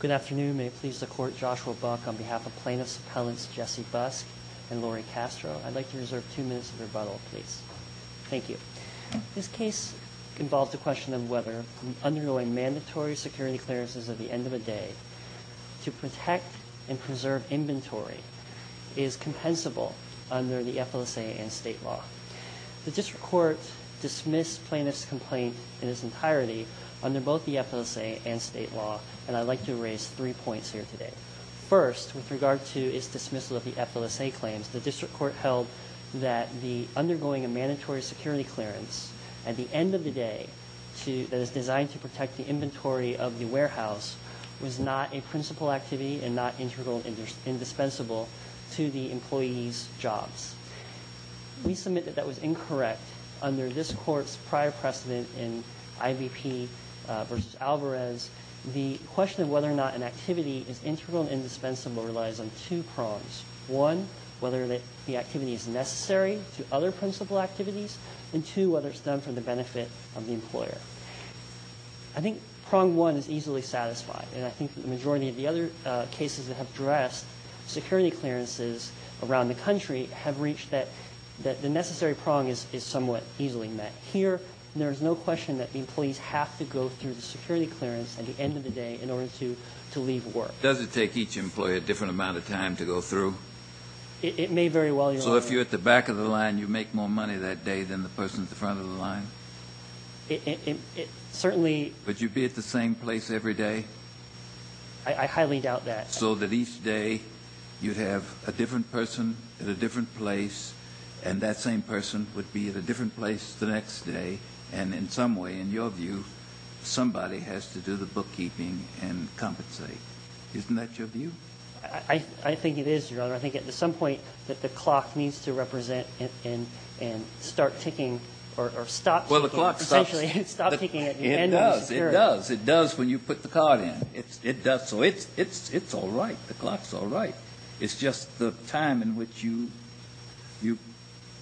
Good afternoon. May it please the Court, Joshua Buck, on behalf of Plaintiffs' Appellants Jesse Busk and Lori Castro. I'd like to reserve two minutes of rebuttal, please. Thank you. This case involved the question of whether undergoing mandatory security clearances at the end of a day to protect and preserve inventory is compensable under the FLSA and state law. The District Court dismissed plaintiff's complaint in its entirety under both the FLSA and state law, and I'd like to raise three points here today. First, with regard to its dismissal of the FLSA claims, the District Court held that the undergoing of mandatory security clearance at the end of the day that is designed to protect the inventory of the warehouse was not a principal activity and not integral and indispensable to the employee's jobs. We submit that that was incorrect under this Court's prior precedent in IVP v. Alvarez. The question of whether or not an activity is integral and indispensable relies on two prongs. One, whether the activity is necessary to other principal activities, and two, whether it's done for the benefit of the employer. I think prong one is easily satisfied, and I think the majority of the other cases that have addressed security clearances around the country have reached that the necessary prong is somewhat easily met. Here, there is no question that employees have to go through the security clearance at the end of the day in order to leave work. Kennedy, does it take each employee a different amount of time to go through? It may very well, Your Honor. So if you're at the back of the line, you make more money that day than the person at the front of the line? It certainly. Would you be at the same place every day? I highly doubt that. So that each day, you'd have a different person at a different place, and that same person would be at a different place the next day, and in some way, in your view, somebody has to do the bookkeeping and compensate. Isn't that your view? I think it is, Your Honor. I think at some point that the clock needs to represent and start ticking or stop ticking, essentially, and stop ticking at the end of the security. It does. It does when you put the card in. It does. So it's all right. The clock's all right. It's just the time in which you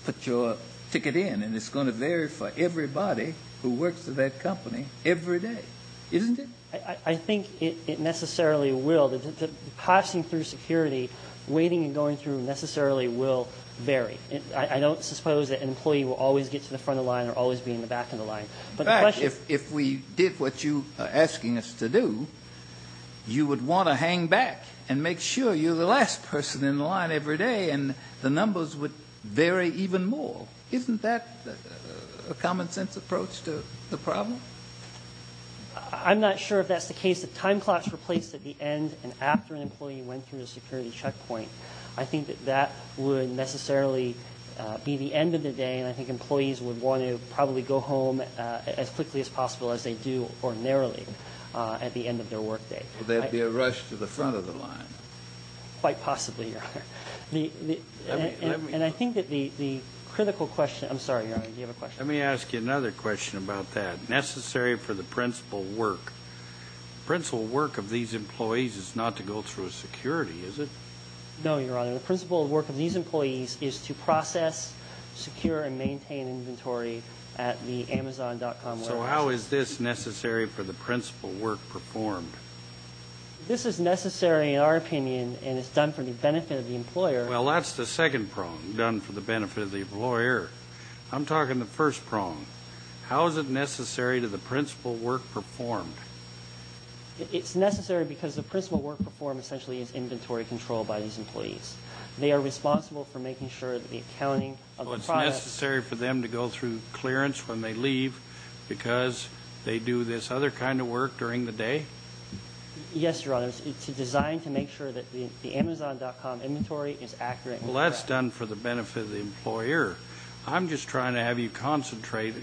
put your ticket in, and it's going to vary for everybody who works at that company every day, isn't it? I think it necessarily will. Passing through security, waiting and going through necessarily will vary. I don't suppose that an employee will always get to the front of the line or always be in the back of the line. In fact, if we did what you are asking us to do, you would want to hang back and make sure you're the last person in the line every day, and the numbers would vary even more. Isn't that a common-sense approach to the problem? I'm not sure if that's the case. If time clocks were placed at the end and after an employee went through a security checkpoint, I think that that would necessarily be the end of the day, and I think that they would go home as quickly as possible as they do ordinarily at the end of their workday. Would there be a rush to the front of the line? Quite possibly, Your Honor. And I think that the critical question – I'm sorry, Your Honor. Do you have a question? Let me ask you another question about that. Necessary for the principal work. The principal work of these employees is not to go through a security, is it? No, Your Honor. The principal work of these employees is to process, secure, and maintain inventory at the Amazon.com warehouse. So how is this necessary for the principal work performed? This is necessary, in our opinion, and it's done for the benefit of the employer. Well, that's the second prong, done for the benefit of the employer. I'm talking the first prong. How is it necessary to the principal work performed? It's necessary because the principal work performed essentially is inventory control by these employees. They are responsible for making sure that the accounting of the process – Well, it's necessary for them to go through clearance when they leave because they do this other kind of work during the day? Yes, Your Honor. It's designed to make sure that the Amazon.com inventory is accurate. Well, that's done for the benefit of the employer. I'm just trying to have you concentrate.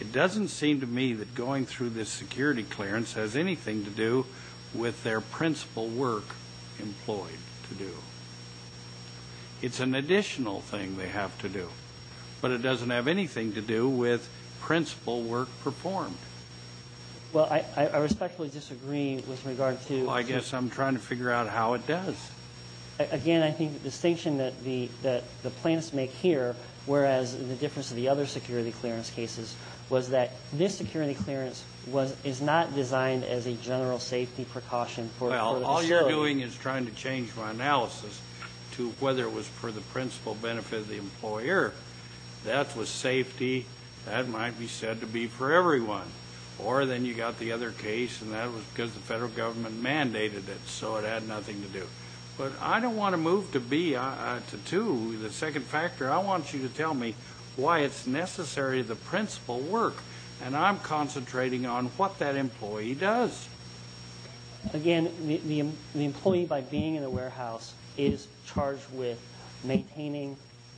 It doesn't seem to me that going through this security clearance has anything to do with their principal work employed to do. It's an additional thing they have to do, but it doesn't have anything to do with principal work performed. Well, I respectfully disagree with regard to – Well, I guess I'm trying to figure out how it does. Again, I think the distinction that the plaintiffs make here, whereas the difference of the other security clearance cases, was that this security clearance is not designed as a general safety precaution for the show. Well, all you're doing is trying to change my analysis to whether it was for the principal benefit of the employer. That was safety. That might be said to be for everyone. Or then you got the other case, and that was because the federal government mandated it, so it had nothing to do. But I don't want to move to two. The second factor, I want you to tell me why it's necessary the principal work, and I'm concentrating on what that employee does. Again, the employee, by being in the warehouse, is charged with maintaining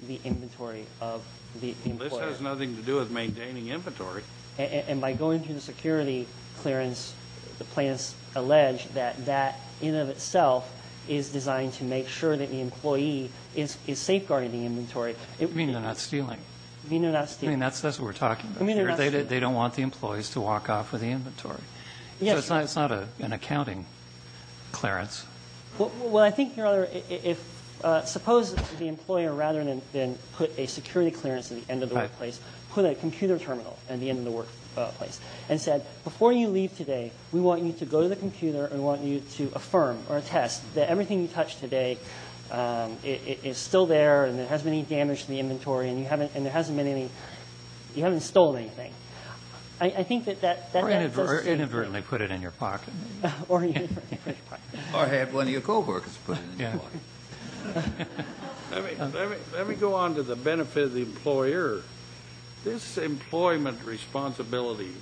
the inventory of the employer. This has nothing to do with maintaining inventory. And by going through the security clearance, the plaintiffs allege that that in and of itself is designed to make sure that the employee is safeguarding the inventory. I mean, they're not stealing. I mean, they're not stealing. I mean, that's what we're talking about here. I mean, they're not stealing. They don't want the employees to walk off with the inventory. Yes. So it's not an accounting clearance. Well, I think, Your Honor, if suppose the employer, rather than put a security clearance at the end of the workplace, put a computer terminal at the end of the workplace, and said, before you leave today, we want you to go to the computer, and we want you to affirm or attest that everything you touched today is still there, and there hasn't been any damage to the inventory, and you haven't stolen anything. Or inadvertently put it in your pocket. Or inadvertently put it in your pocket. Or have one of your coworkers put it in your pocket. Let me go on to the benefit of the employer. This employment responsibility,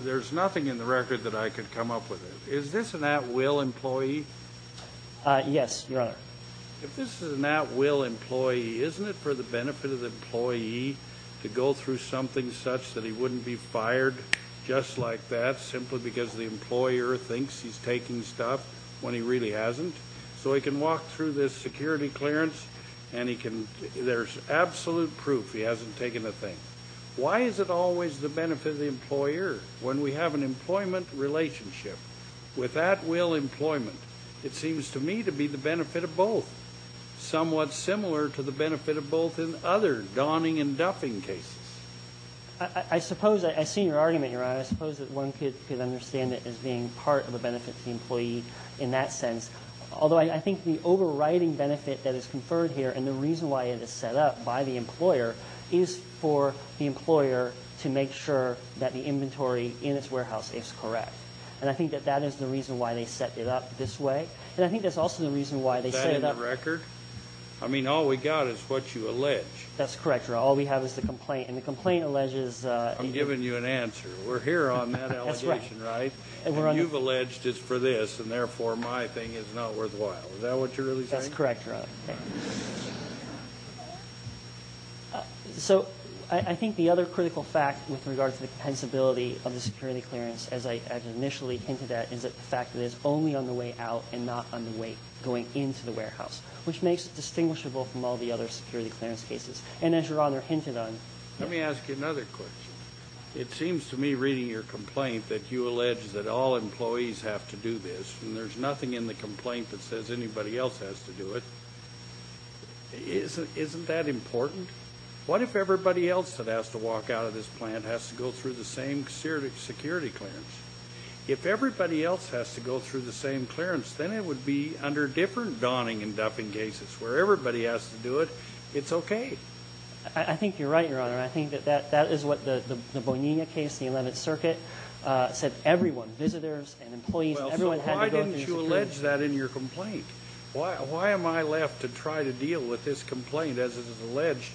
there's nothing in the record that I could come up with. Is this an at-will employee? Yes, Your Honor. If this is an at-will employee, isn't it for the benefit of the employee to go through something such that he wouldn't be fired just like that, simply because the employer thinks he's taking stuff when he really hasn't? So he can walk through this security clearance, and there's absolute proof he hasn't taken a thing. Why is it always the benefit of the employer when we have an employment relationship? With at-will employment, it seems to me to be the benefit of both, somewhat similar to the benefit of both in other donning and duffing cases. Your Honor, I suppose that one could understand it as being part of the benefit to the employee in that sense. Although I think the overriding benefit that is conferred here, and the reason why it is set up by the employer, is for the employer to make sure that the inventory in its warehouse is correct. And I think that that is the reason why they set it up this way. And I think that's also the reason why they set it up. Is that in the record? I mean, all we got is what you allege. That's correct, Your Honor. All we have is the complaint. And the complaint alleges the – I'm giving you an answer. We're here on that allegation, right? And you've alleged it's for this, and therefore my thing is not worthwhile. Is that what you're really saying? That's correct, Your Honor. So I think the other critical fact with regard to the compensability of the security clearance, as I initially hinted at, is the fact that it's only on the way out and not on the way going into the warehouse, which makes it distinguishable from all the other security clearance cases. And as Your Honor hinted on – Let me ask you another question. It seems to me, reading your complaint, that you allege that all employees have to do this, and there's nothing in the complaint that says anybody else has to do it. Isn't that important? What if everybody else that has to walk out of this plant has to go through the same security clearance? If everybody else has to go through the same clearance, then it would be under different donning and duffing cases. Where everybody has to do it, it's okay. I think you're right, Your Honor. I think that that is what the Bonilla case, the 11th Circuit, said everyone, visitors and employees, everyone had to go through security clearance. Well, so why didn't you allege that in your complaint? Why am I left to try to deal with this complaint as it is alleged?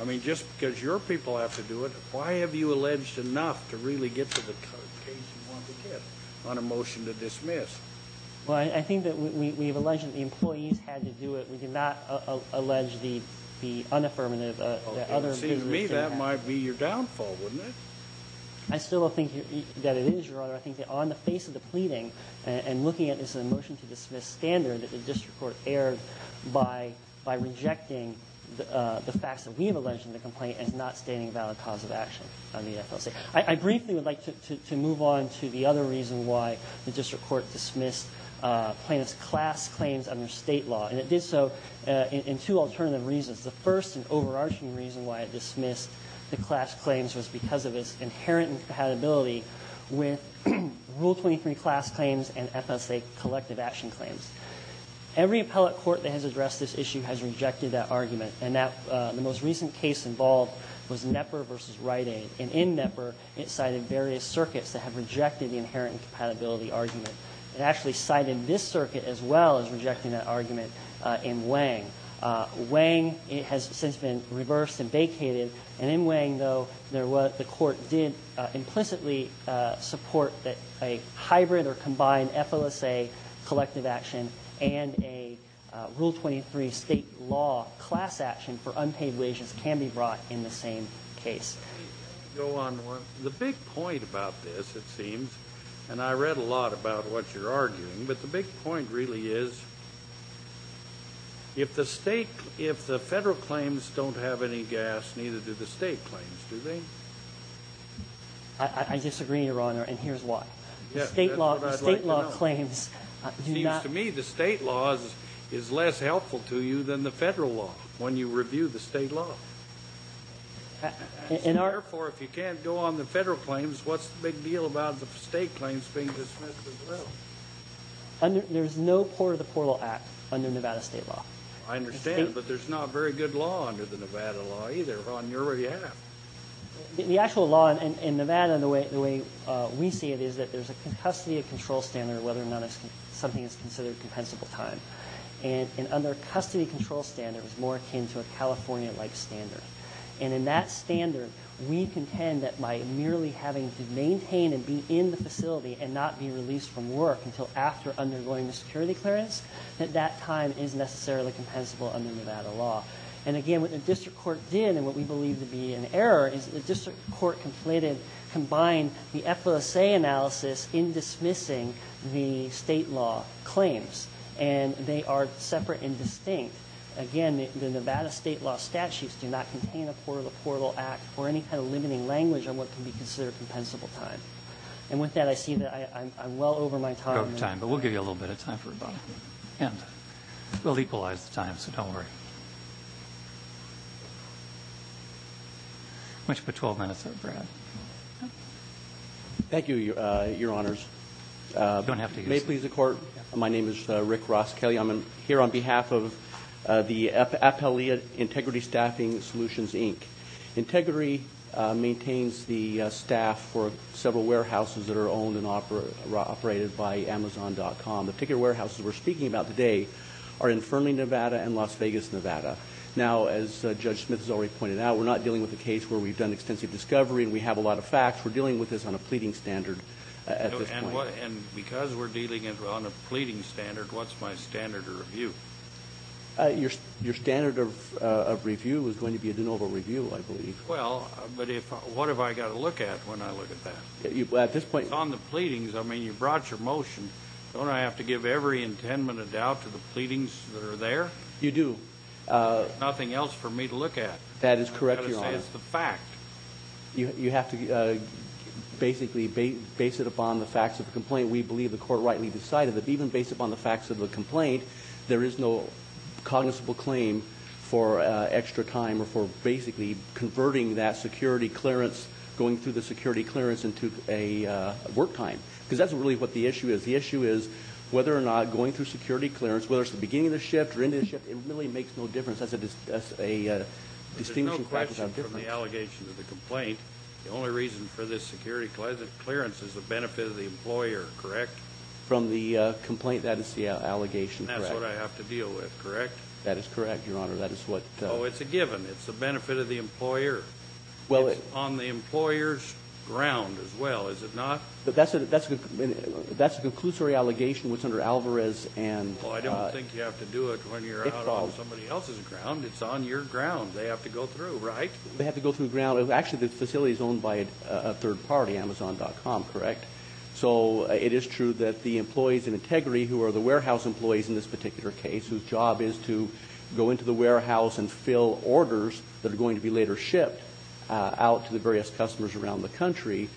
I mean, just because your people have to do it, why have you alleged enough to really get to the case you want to get on a motion to dismiss? Well, I think that we have alleged that the employees had to do it. We cannot allege the unaffirmative. It seems to me that might be your downfall, wouldn't it? I still think that it is, Your Honor. I think that on the face of the pleading and looking at this in a motion to dismiss standard that the district court erred by rejecting the facts that we have alleged in the complaint as not stating a valid cause of action on the FLC. I briefly would like to move on to the other reason why the district court dismissed plaintiff's class claims under State law. And it did so in two alternative reasons. The first and overarching reason why it dismissed the class claims was because of its inherent incompatibility with Rule 23 class claims and FSA collective action claims. Every appellate court that has addressed this issue has rejected that argument. And the most recent case involved was Knepper v. Rite Aid. And in Knepper, it cited various circuits that have rejected the inherent incompatibility argument. It actually cited this circuit as well as rejecting that argument in Wang. Wang has since been reversed and vacated. And in Wang, though, there was the court did implicitly support that a hybrid or combined FLSA collective action and a Rule 23 State law class action for unpaid wages can be brought in the same case. Go on, Warren. The big point about this, it seems, and I read a lot about what you're arguing, but the big point really is if the State, if the Federal claims don't have any gas, neither do the State claims, do they? I disagree, Your Honor, and here's why. The State law claims do not. It seems to me the State law is less helpful to you than the Federal law when you review the State law. Therefore, if you can't go on the Federal claims, what's the big deal about the State claims being dismissed as well? There's no part of the Portal Act under Nevada State law. I understand, but there's not very good law under the Nevada law either on your behalf. The actual law in Nevada, the way we see it, is that there's a custody of control standard whether or not something is considered compensable time. And under custody control standard, it's more akin to a California-like standard. And in that standard, we contend that by merely having to maintain and be in the facility and not be released from work until after undergoing the security clearance, that that time is necessarily compensable under Nevada law. And again, what the District Court did and what we believe to be an error is the District Court combined the FOSA analysis in dismissing the State law claims. And they are separate and distinct. Again, the Nevada State law statutes do not contain a part of the Portal Act or any kind of limiting language on what can be considered compensable time. And with that, I see that I'm well over my time. You're out of time, but we'll give you a little bit of time for rebuttal. And we'll equalize the time, so don't worry. I want you to put 12 minutes up for that. Thank you, Your Honors. You don't have to use that. If you may, please, the Court. My name is Rick Ross Kelly. I'm here on behalf of the Appellee Integrity Staffing Solutions, Inc. Integrity maintains the staff for several warehouses that are owned and operated by Amazon.com. The particular warehouses we're speaking about today are in Fernley, Nevada, and Las Vegas, Nevada. Now, as Judge Smith has already pointed out, we're not dealing with a case where we've done extensive discovery and we have a lot of facts. We're dealing with this on a pleading standard at this point. And because we're dealing on a pleading standard, what's my standard of review? Your standard of review is going to be a de novo review, I believe. Well, but what have I got to look at when I look at that? At this point. It's on the pleadings. I mean, you brought your motion. Don't I have to give every intendment of doubt to the pleadings that are there? You do. There's nothing else for me to look at. That is correct, Your Honors. I've got to say it's the fact. You have to basically base it upon the facts of the complaint. We believe the court rightly decided that even based upon the facts of the complaint, there is no cognizable claim for extra time or for basically converting that security clearance, going through the security clearance, into a work time. Because that's really what the issue is. The issue is whether or not going through security clearance, whether it's the beginning of the shift or the end of the shift, it really makes no difference. There's no question from the allegation to the complaint. The only reason for this security clearance is the benefit of the employer, correct? From the complaint, that is the allegation, correct? And that's what I have to deal with, correct? That is correct, Your Honor. Oh, it's a given. It's the benefit of the employer. It's on the employer's ground as well, is it not? That's a conclusory allegation that's under Alvarez. Well, I don't think you have to do it when you're out on somebody else's ground. It's on your ground. They have to go through, right? They have to go through the ground. Actually, the facility is owned by a third party, Amazon.com, correct? So it is true that the employees in Integri, who are the warehouse employees in this particular case, whose job is to go into the warehouse and fill orders that are going to be later shipped out to the various customers around the country,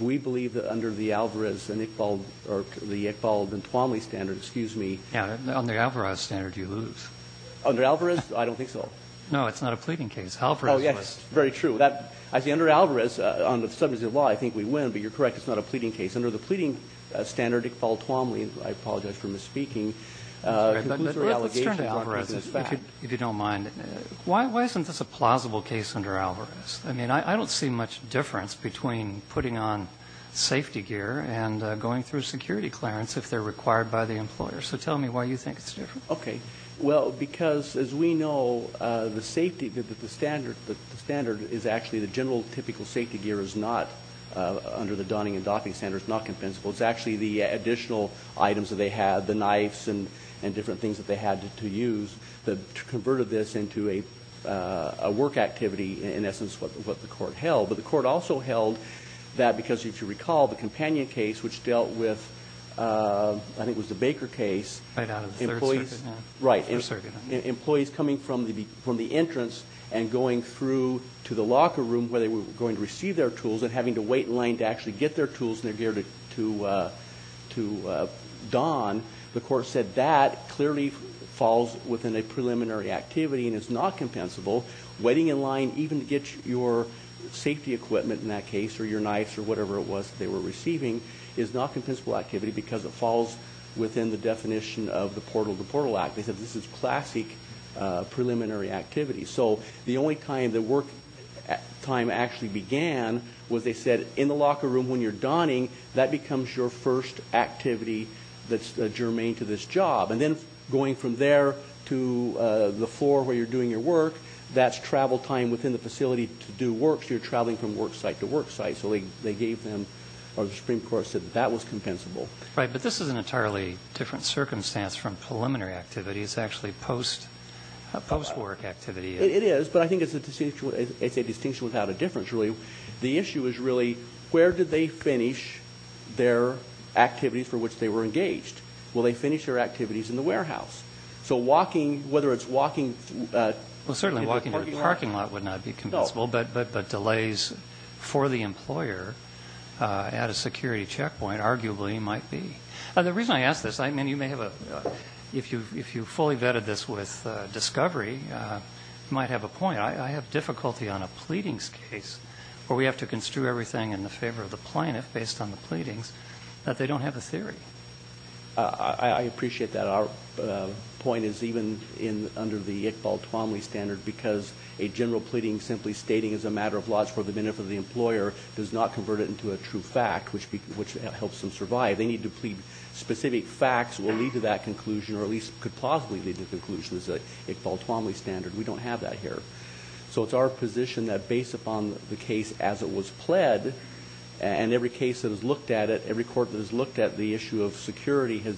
we believe that under the Alvarez and Iqbal, or the Iqbal and Tuomly standard, excuse me. Yeah. On the Alvarez standard, you lose. Under Alvarez? I don't think so. No, it's not a pleading case. Alvarez was. Oh, yes. It's very true. Under Alvarez, on the subject of the law, I think we win, but you're correct. It's not a pleading case. Under the pleading standard, Iqbal and Tuomly, I apologize for misspeaking, it's a conclusory allegation. Let's turn to Alvarez, if you don't mind. Why isn't this a plausible case under Alvarez? I mean, I don't see much difference between putting on safety gear and going through security clearance if they're required by the employer. So tell me why you think it's different. Okay. Well, because, as we know, the safety, the standard is actually, the general typical safety gear is not, under the Donning and Doffing standards, not compensable. It's actually the additional items that they had, the knives and different things that they had to use that converted this into a work activity, in essence, what the court held. But the court also held that because, if you recall, the companion case, which dealt with, I think it was the Baker case. Right out of the Third Circuit. Right. Employees coming from the entrance and going through to the locker room where they were going to receive their tools and having to wait in line to actually get their tools, and they're geared to Don. The court said that clearly falls within a preliminary activity and is not compensable. Waiting in line, even to get your safety equipment, in that case, or your knives or whatever it was they were receiving, is not compensable activity because it falls within the definition of the Portal to Portal Act. They said this is classic preliminary activity. So the only time the work time actually began was, they said, in the locker room when you're Donning, that becomes your first activity that's germane to this job. And then going from there to the floor where you're doing your work, that's travel time within the facility to do work. So you're traveling from work site to work site. So they gave them, or the Supreme Court said that that was compensable. Right. But this is an entirely different circumstance from preliminary activity. It's actually post-work activity. It is. But I think it's a distinction without a difference, really. The issue is really where did they finish their activities for which they were engaged? Will they finish their activities in the warehouse? So walking, whether it's walking to the parking lot. Well, certainly walking to the parking lot would not be compensable, but delays for the employer at a security checkpoint arguably might be. The reason I ask this, I mean, you may have a ‑‑ if you fully vetted this with discovery, you might have a point. I have difficulty on a pleadings case where we have to construe everything in the favor of the plaintiff based on the pleadings that they don't have a theory. I appreciate that. Our point is even under the Iqbal Twomley standard because a general pleading simply stating it's a matter of laws for the benefit of the employer does not convert it into a true fact, which helps them survive. They need to plead specific facts that will lead to that conclusion or at least could possibly lead to the conclusion as a Iqbal Twomley standard. We don't have that here. So it's our position that based upon the case as it was pled and every case that has looked at it, every court that has looked at the issue of security has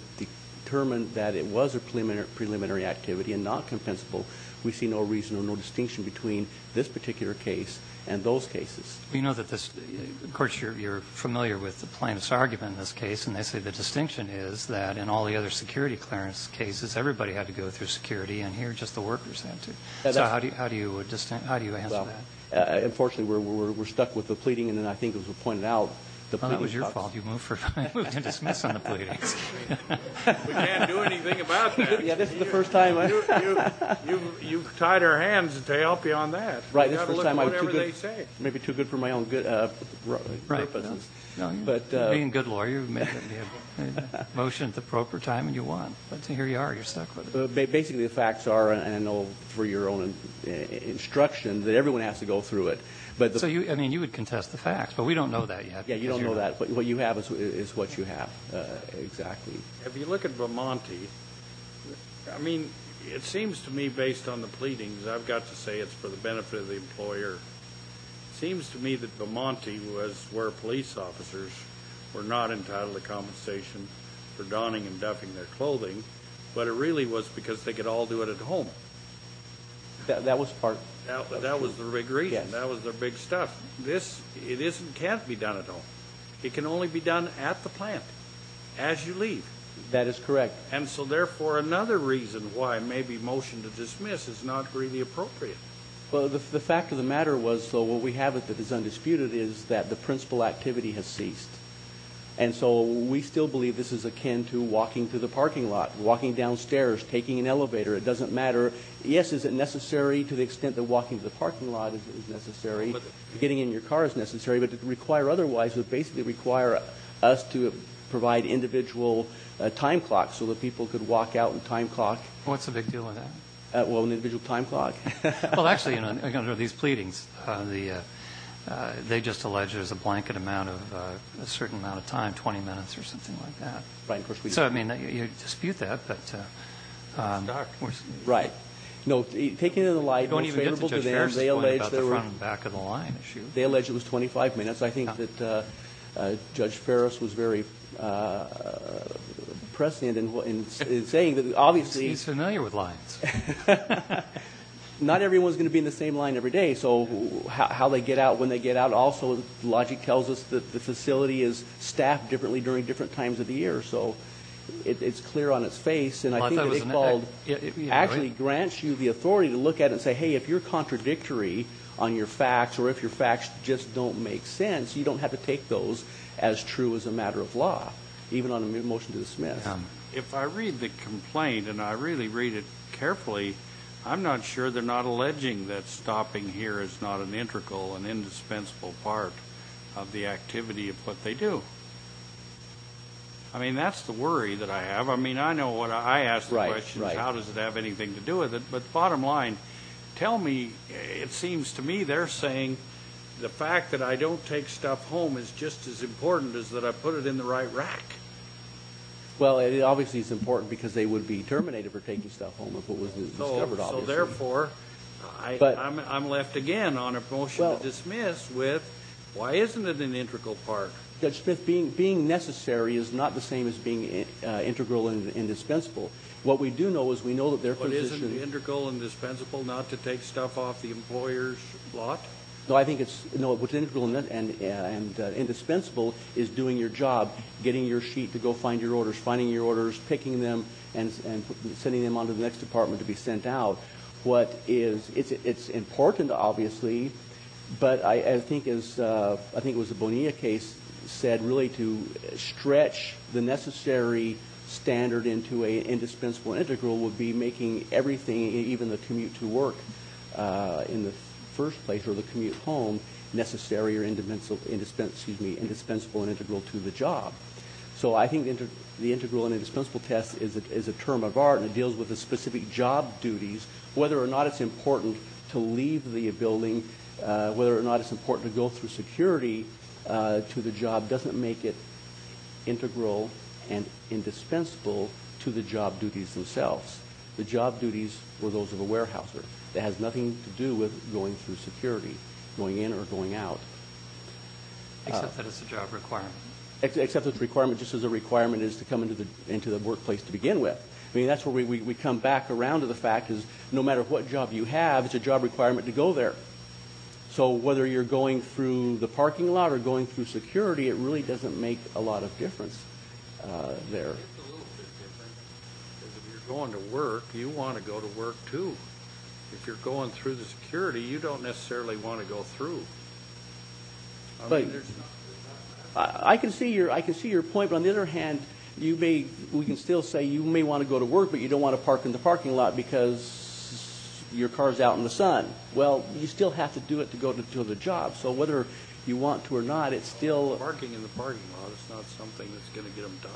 determined that it was a preliminary activity and not compensable, we see no reason or no distinction between this particular case and those cases. You know that this ‑‑ of course, you're familiar with the plaintiff's argument in this case, and they say the distinction is that in all the other security clearance cases, everybody had to go through security, and here just the workers had to. So how do you answer that? Unfortunately, we're stuck with the pleading. And then I think as was pointed out, the pleading ‑‑ Well, that was your fault. You moved to dismiss on the pleadings. We can't do anything about that. Yeah, this is the first time. You tied our hands to help you on that. Right. You've got to look at whatever they say. Maybe too good for my own purposes. Right. Being a good lawyer, you make a motion at the proper time and you won. But here you are. You're stuck with it. Basically, the facts are, and I know for your own instruction, that everyone has to go through it. I mean, you would contest the facts, but we don't know that yet. Yeah, you don't know that. But what you have is what you have exactly. If you look at Vermonti, I mean, it seems to me, based on the pleadings, I've got to say it's for the benefit of the employer. It seems to me that Vermonti was where police officers were not entitled to compensation for donning and duffing their clothing, but it really was because they could all do it at home. That was part of it. That was the big reason. Yes. That was the big stuff. This can't be done at home. It can only be done at the plant, as you leave. That is correct. And so, therefore, another reason why maybe motion to dismiss is not really appropriate. Well, the fact of the matter was, so what we have that is undisputed is that the principal activity has ceased. And so we still believe this is akin to walking to the parking lot, walking downstairs, taking an elevator. It doesn't matter. Yes, is it necessary to the extent that walking to the parking lot is necessary, getting in your car is necessary, but to require otherwise would basically require us to provide individual time clocks so that people could walk out and time clock. What's the big deal with that? Well, an individual time clock. Well, actually, under these pleadings, they just allege there's a blanket amount of a certain amount of time, 20 minutes or something like that. Right. So, I mean, you dispute that, but. Right. No, taking it to the light. We don't even get to Judge Ferris' point about the front and back of the line issue. They allege it was 25 minutes. I think that Judge Ferris was very prescient in saying that obviously. He's familiar with lines. Not everyone's going to be in the same line every day. So, how they get out, when they get out, also logic tells us that the facility is staffed differently during different times of the year. So, it's clear on its face, and I think it actually grants you the authority to look at it and say, hey, if you're contradictory on your facts or if your facts just don't make sense, you don't have to take those as true as a matter of law, even on a motion to dismiss. If I read the complaint, and I really read it carefully, I'm not sure they're not alleging that stopping here is not an integral and indispensable part of the activity of what they do. I mean, that's the worry that I have. I mean, I know what I ask the questions. How does it have anything to do with it? But bottom line, tell me, it seems to me they're saying the fact that I don't take stuff home is just as important as that I put it in the right rack. Well, it obviously is important because they would be terminated for taking stuff home if it wasn't discovered, obviously. So, therefore, I'm left again on a motion to dismiss with, why isn't it an integral part? Judge Smith, being necessary is not the same as being integral and indispensable. What we do know is we know that their position... But isn't it integral and dispensable not to take stuff off the employer's lot? No, I think what's integral and indispensable is doing your job, getting your sheet to go find your orders, finding your orders, picking them, and sending them on to the next department to be sent out. It's important, obviously, but I think as the Bonilla case said, really to stretch the necessary standard into an indispensable integral would be making everything, even the commute to work in the first place or the commute home, necessary or indispensable and integral to the job. So I think the integral and indispensable test is a term of art and it deals with the specific job duties, whether or not it's important to leave the building, whether or not it's important to go through security to the job, doesn't make it integral and indispensable to the job duties themselves. The job duties were those of a warehouser. It has nothing to do with going through security, going in or going out. Except that it's a job requirement. Except it's a requirement just as a requirement is to come into the workplace to begin with. I mean, that's where we come back around to the fact is no matter what job you have, it's a job requirement to go there. So whether you're going through the parking lot or going through security, it really doesn't make a lot of difference there. It's a little bit different because if you're going to work, you want to go to work too. If you're going through the security, you don't necessarily want to go through. I can see your point, but on the other hand, we can still say you may want to go to work, but you don't want to park in the parking lot because your car is out in the sun. Well, you still have to do it to go to the job. So whether you want to or not, it's still – It's not something that's going to get them to die.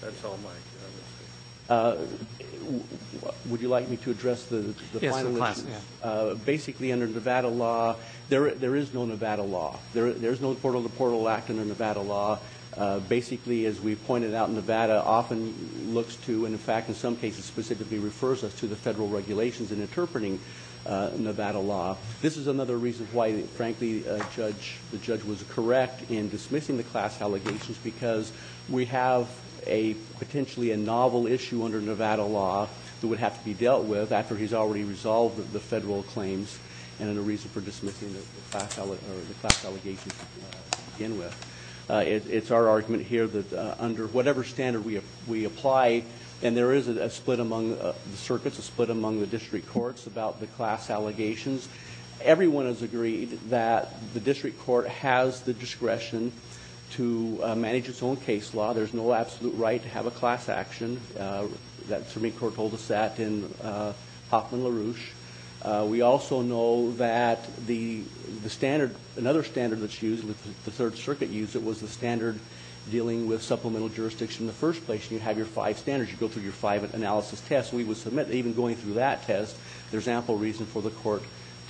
That's all my understanding. Would you like me to address the final question? Yes, of course. Basically, under Nevada law, there is no Nevada law. There's no portal-to-portal act under Nevada law. Basically, as we pointed out, Nevada often looks to and, in fact, in some cases, specifically refers us to the federal regulations in interpreting Nevada law. This is another reason why, frankly, the judge was correct in dismissing the class allegations because we have potentially a novel issue under Nevada law that would have to be dealt with after he's already resolved the federal claims and a reason for dismissing the class allegations to begin with. It's our argument here that under whatever standard we apply, and there is a split among the circuits, a split among the district courts about the class allegations, everyone has agreed that the district court has the discretion to manage its own case law. There's no absolute right to have a class action. That Supreme Court told us that in Hoffman-LaRouche. We also know that another standard that's used, the Third Circuit used it, was the standard dealing with supplemental jurisdiction in the first place. You have your five standards. You go through your five analysis tests. We would submit that even going through that test, there's ample reason for the court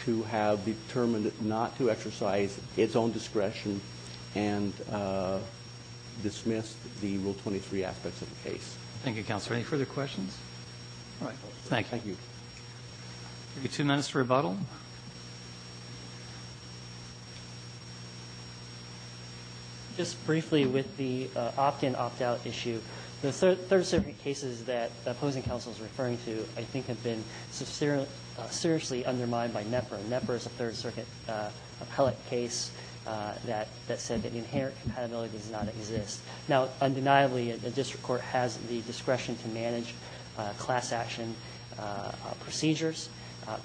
to have determined not to exercise its own discretion and dismissed the Rule 23 aspects of the case. Thank you, Counselor. Any further questions? All right. Thank you. Thank you. We have two minutes to rebuttal. Just briefly with the opt-in, opt-out issue. The Third Circuit cases that the opposing counsel is referring to, I think, have been seriously undermined by NEPRA. NEPRA is a Third Circuit appellate case that said that inherent compatibility does not exist. Now, undeniably, a district court has the discretion to manage class action procedures.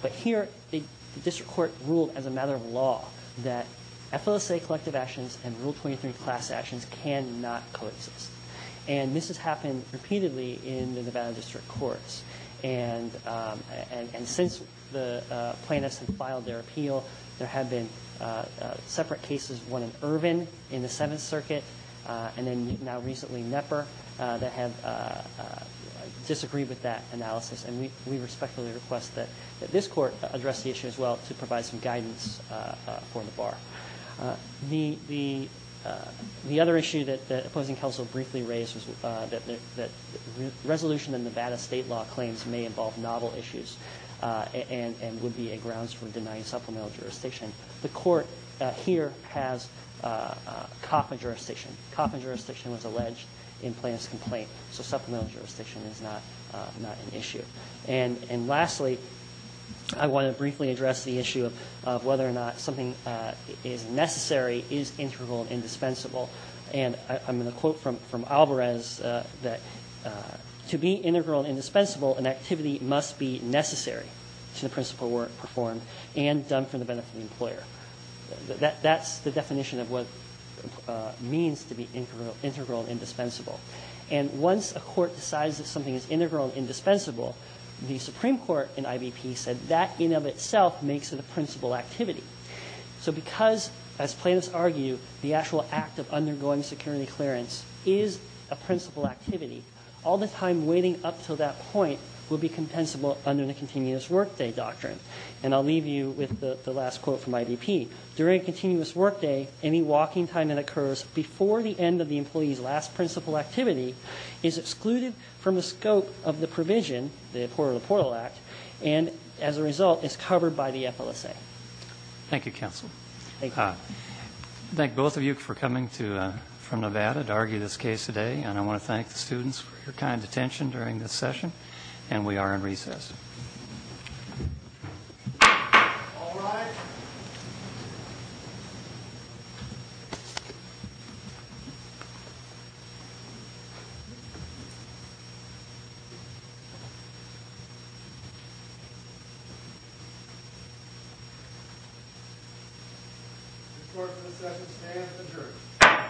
But here, the district court ruled as a matter of law that FLSA collective actions and Rule 23 class actions cannot coexist. And this has happened repeatedly in the Nevada district courts. And since the plaintiffs have filed their appeal, there have been separate cases, one in Irvin in the Seventh Circuit, and then now recently NEPRA, that have disagreed with that analysis. And we respectfully request that this court address the issue as well to provide some guidance for the bar. The other issue that the opposing counsel briefly raised was that resolution in the Nevada state law claims may involve novel issues and would be a grounds for denying supplemental jurisdiction. The court here has Kauffman jurisdiction. Kauffman jurisdiction was alleged in Plaintiff's complaint. So supplemental jurisdiction is not an issue. And lastly, I want to briefly address the issue of whether or not something is necessary, is integral and indispensable. And I'm going to quote from Alvarez that to be integral and indispensable, an activity must be necessary to the principle where it's performed and done for the benefit of the employer. That's the definition of what it means to be integral and indispensable. And once a court decides that something is integral and indispensable, the Supreme Court in IBP said that in and of itself makes it a principle activity. So because, as plaintiffs argue, the actual act of undergoing security clearance is a principle activity, all the time waiting up until that point will be compensable under the continuous workday doctrine. And I'll leave you with the last quote from IBP. During a continuous workday, any walking time that occurs before the end of the employee's last principle activity is excluded from the scope of the provision, the Porter LaPorte Act, and as a result is covered by the FLSA. Thank you, counsel. Thank you. I thank both of you for coming from Nevada to argue this case today. And I want to thank the students for your kind attention during this session. And we are in recess. All rise. The court for this session stands adjourned.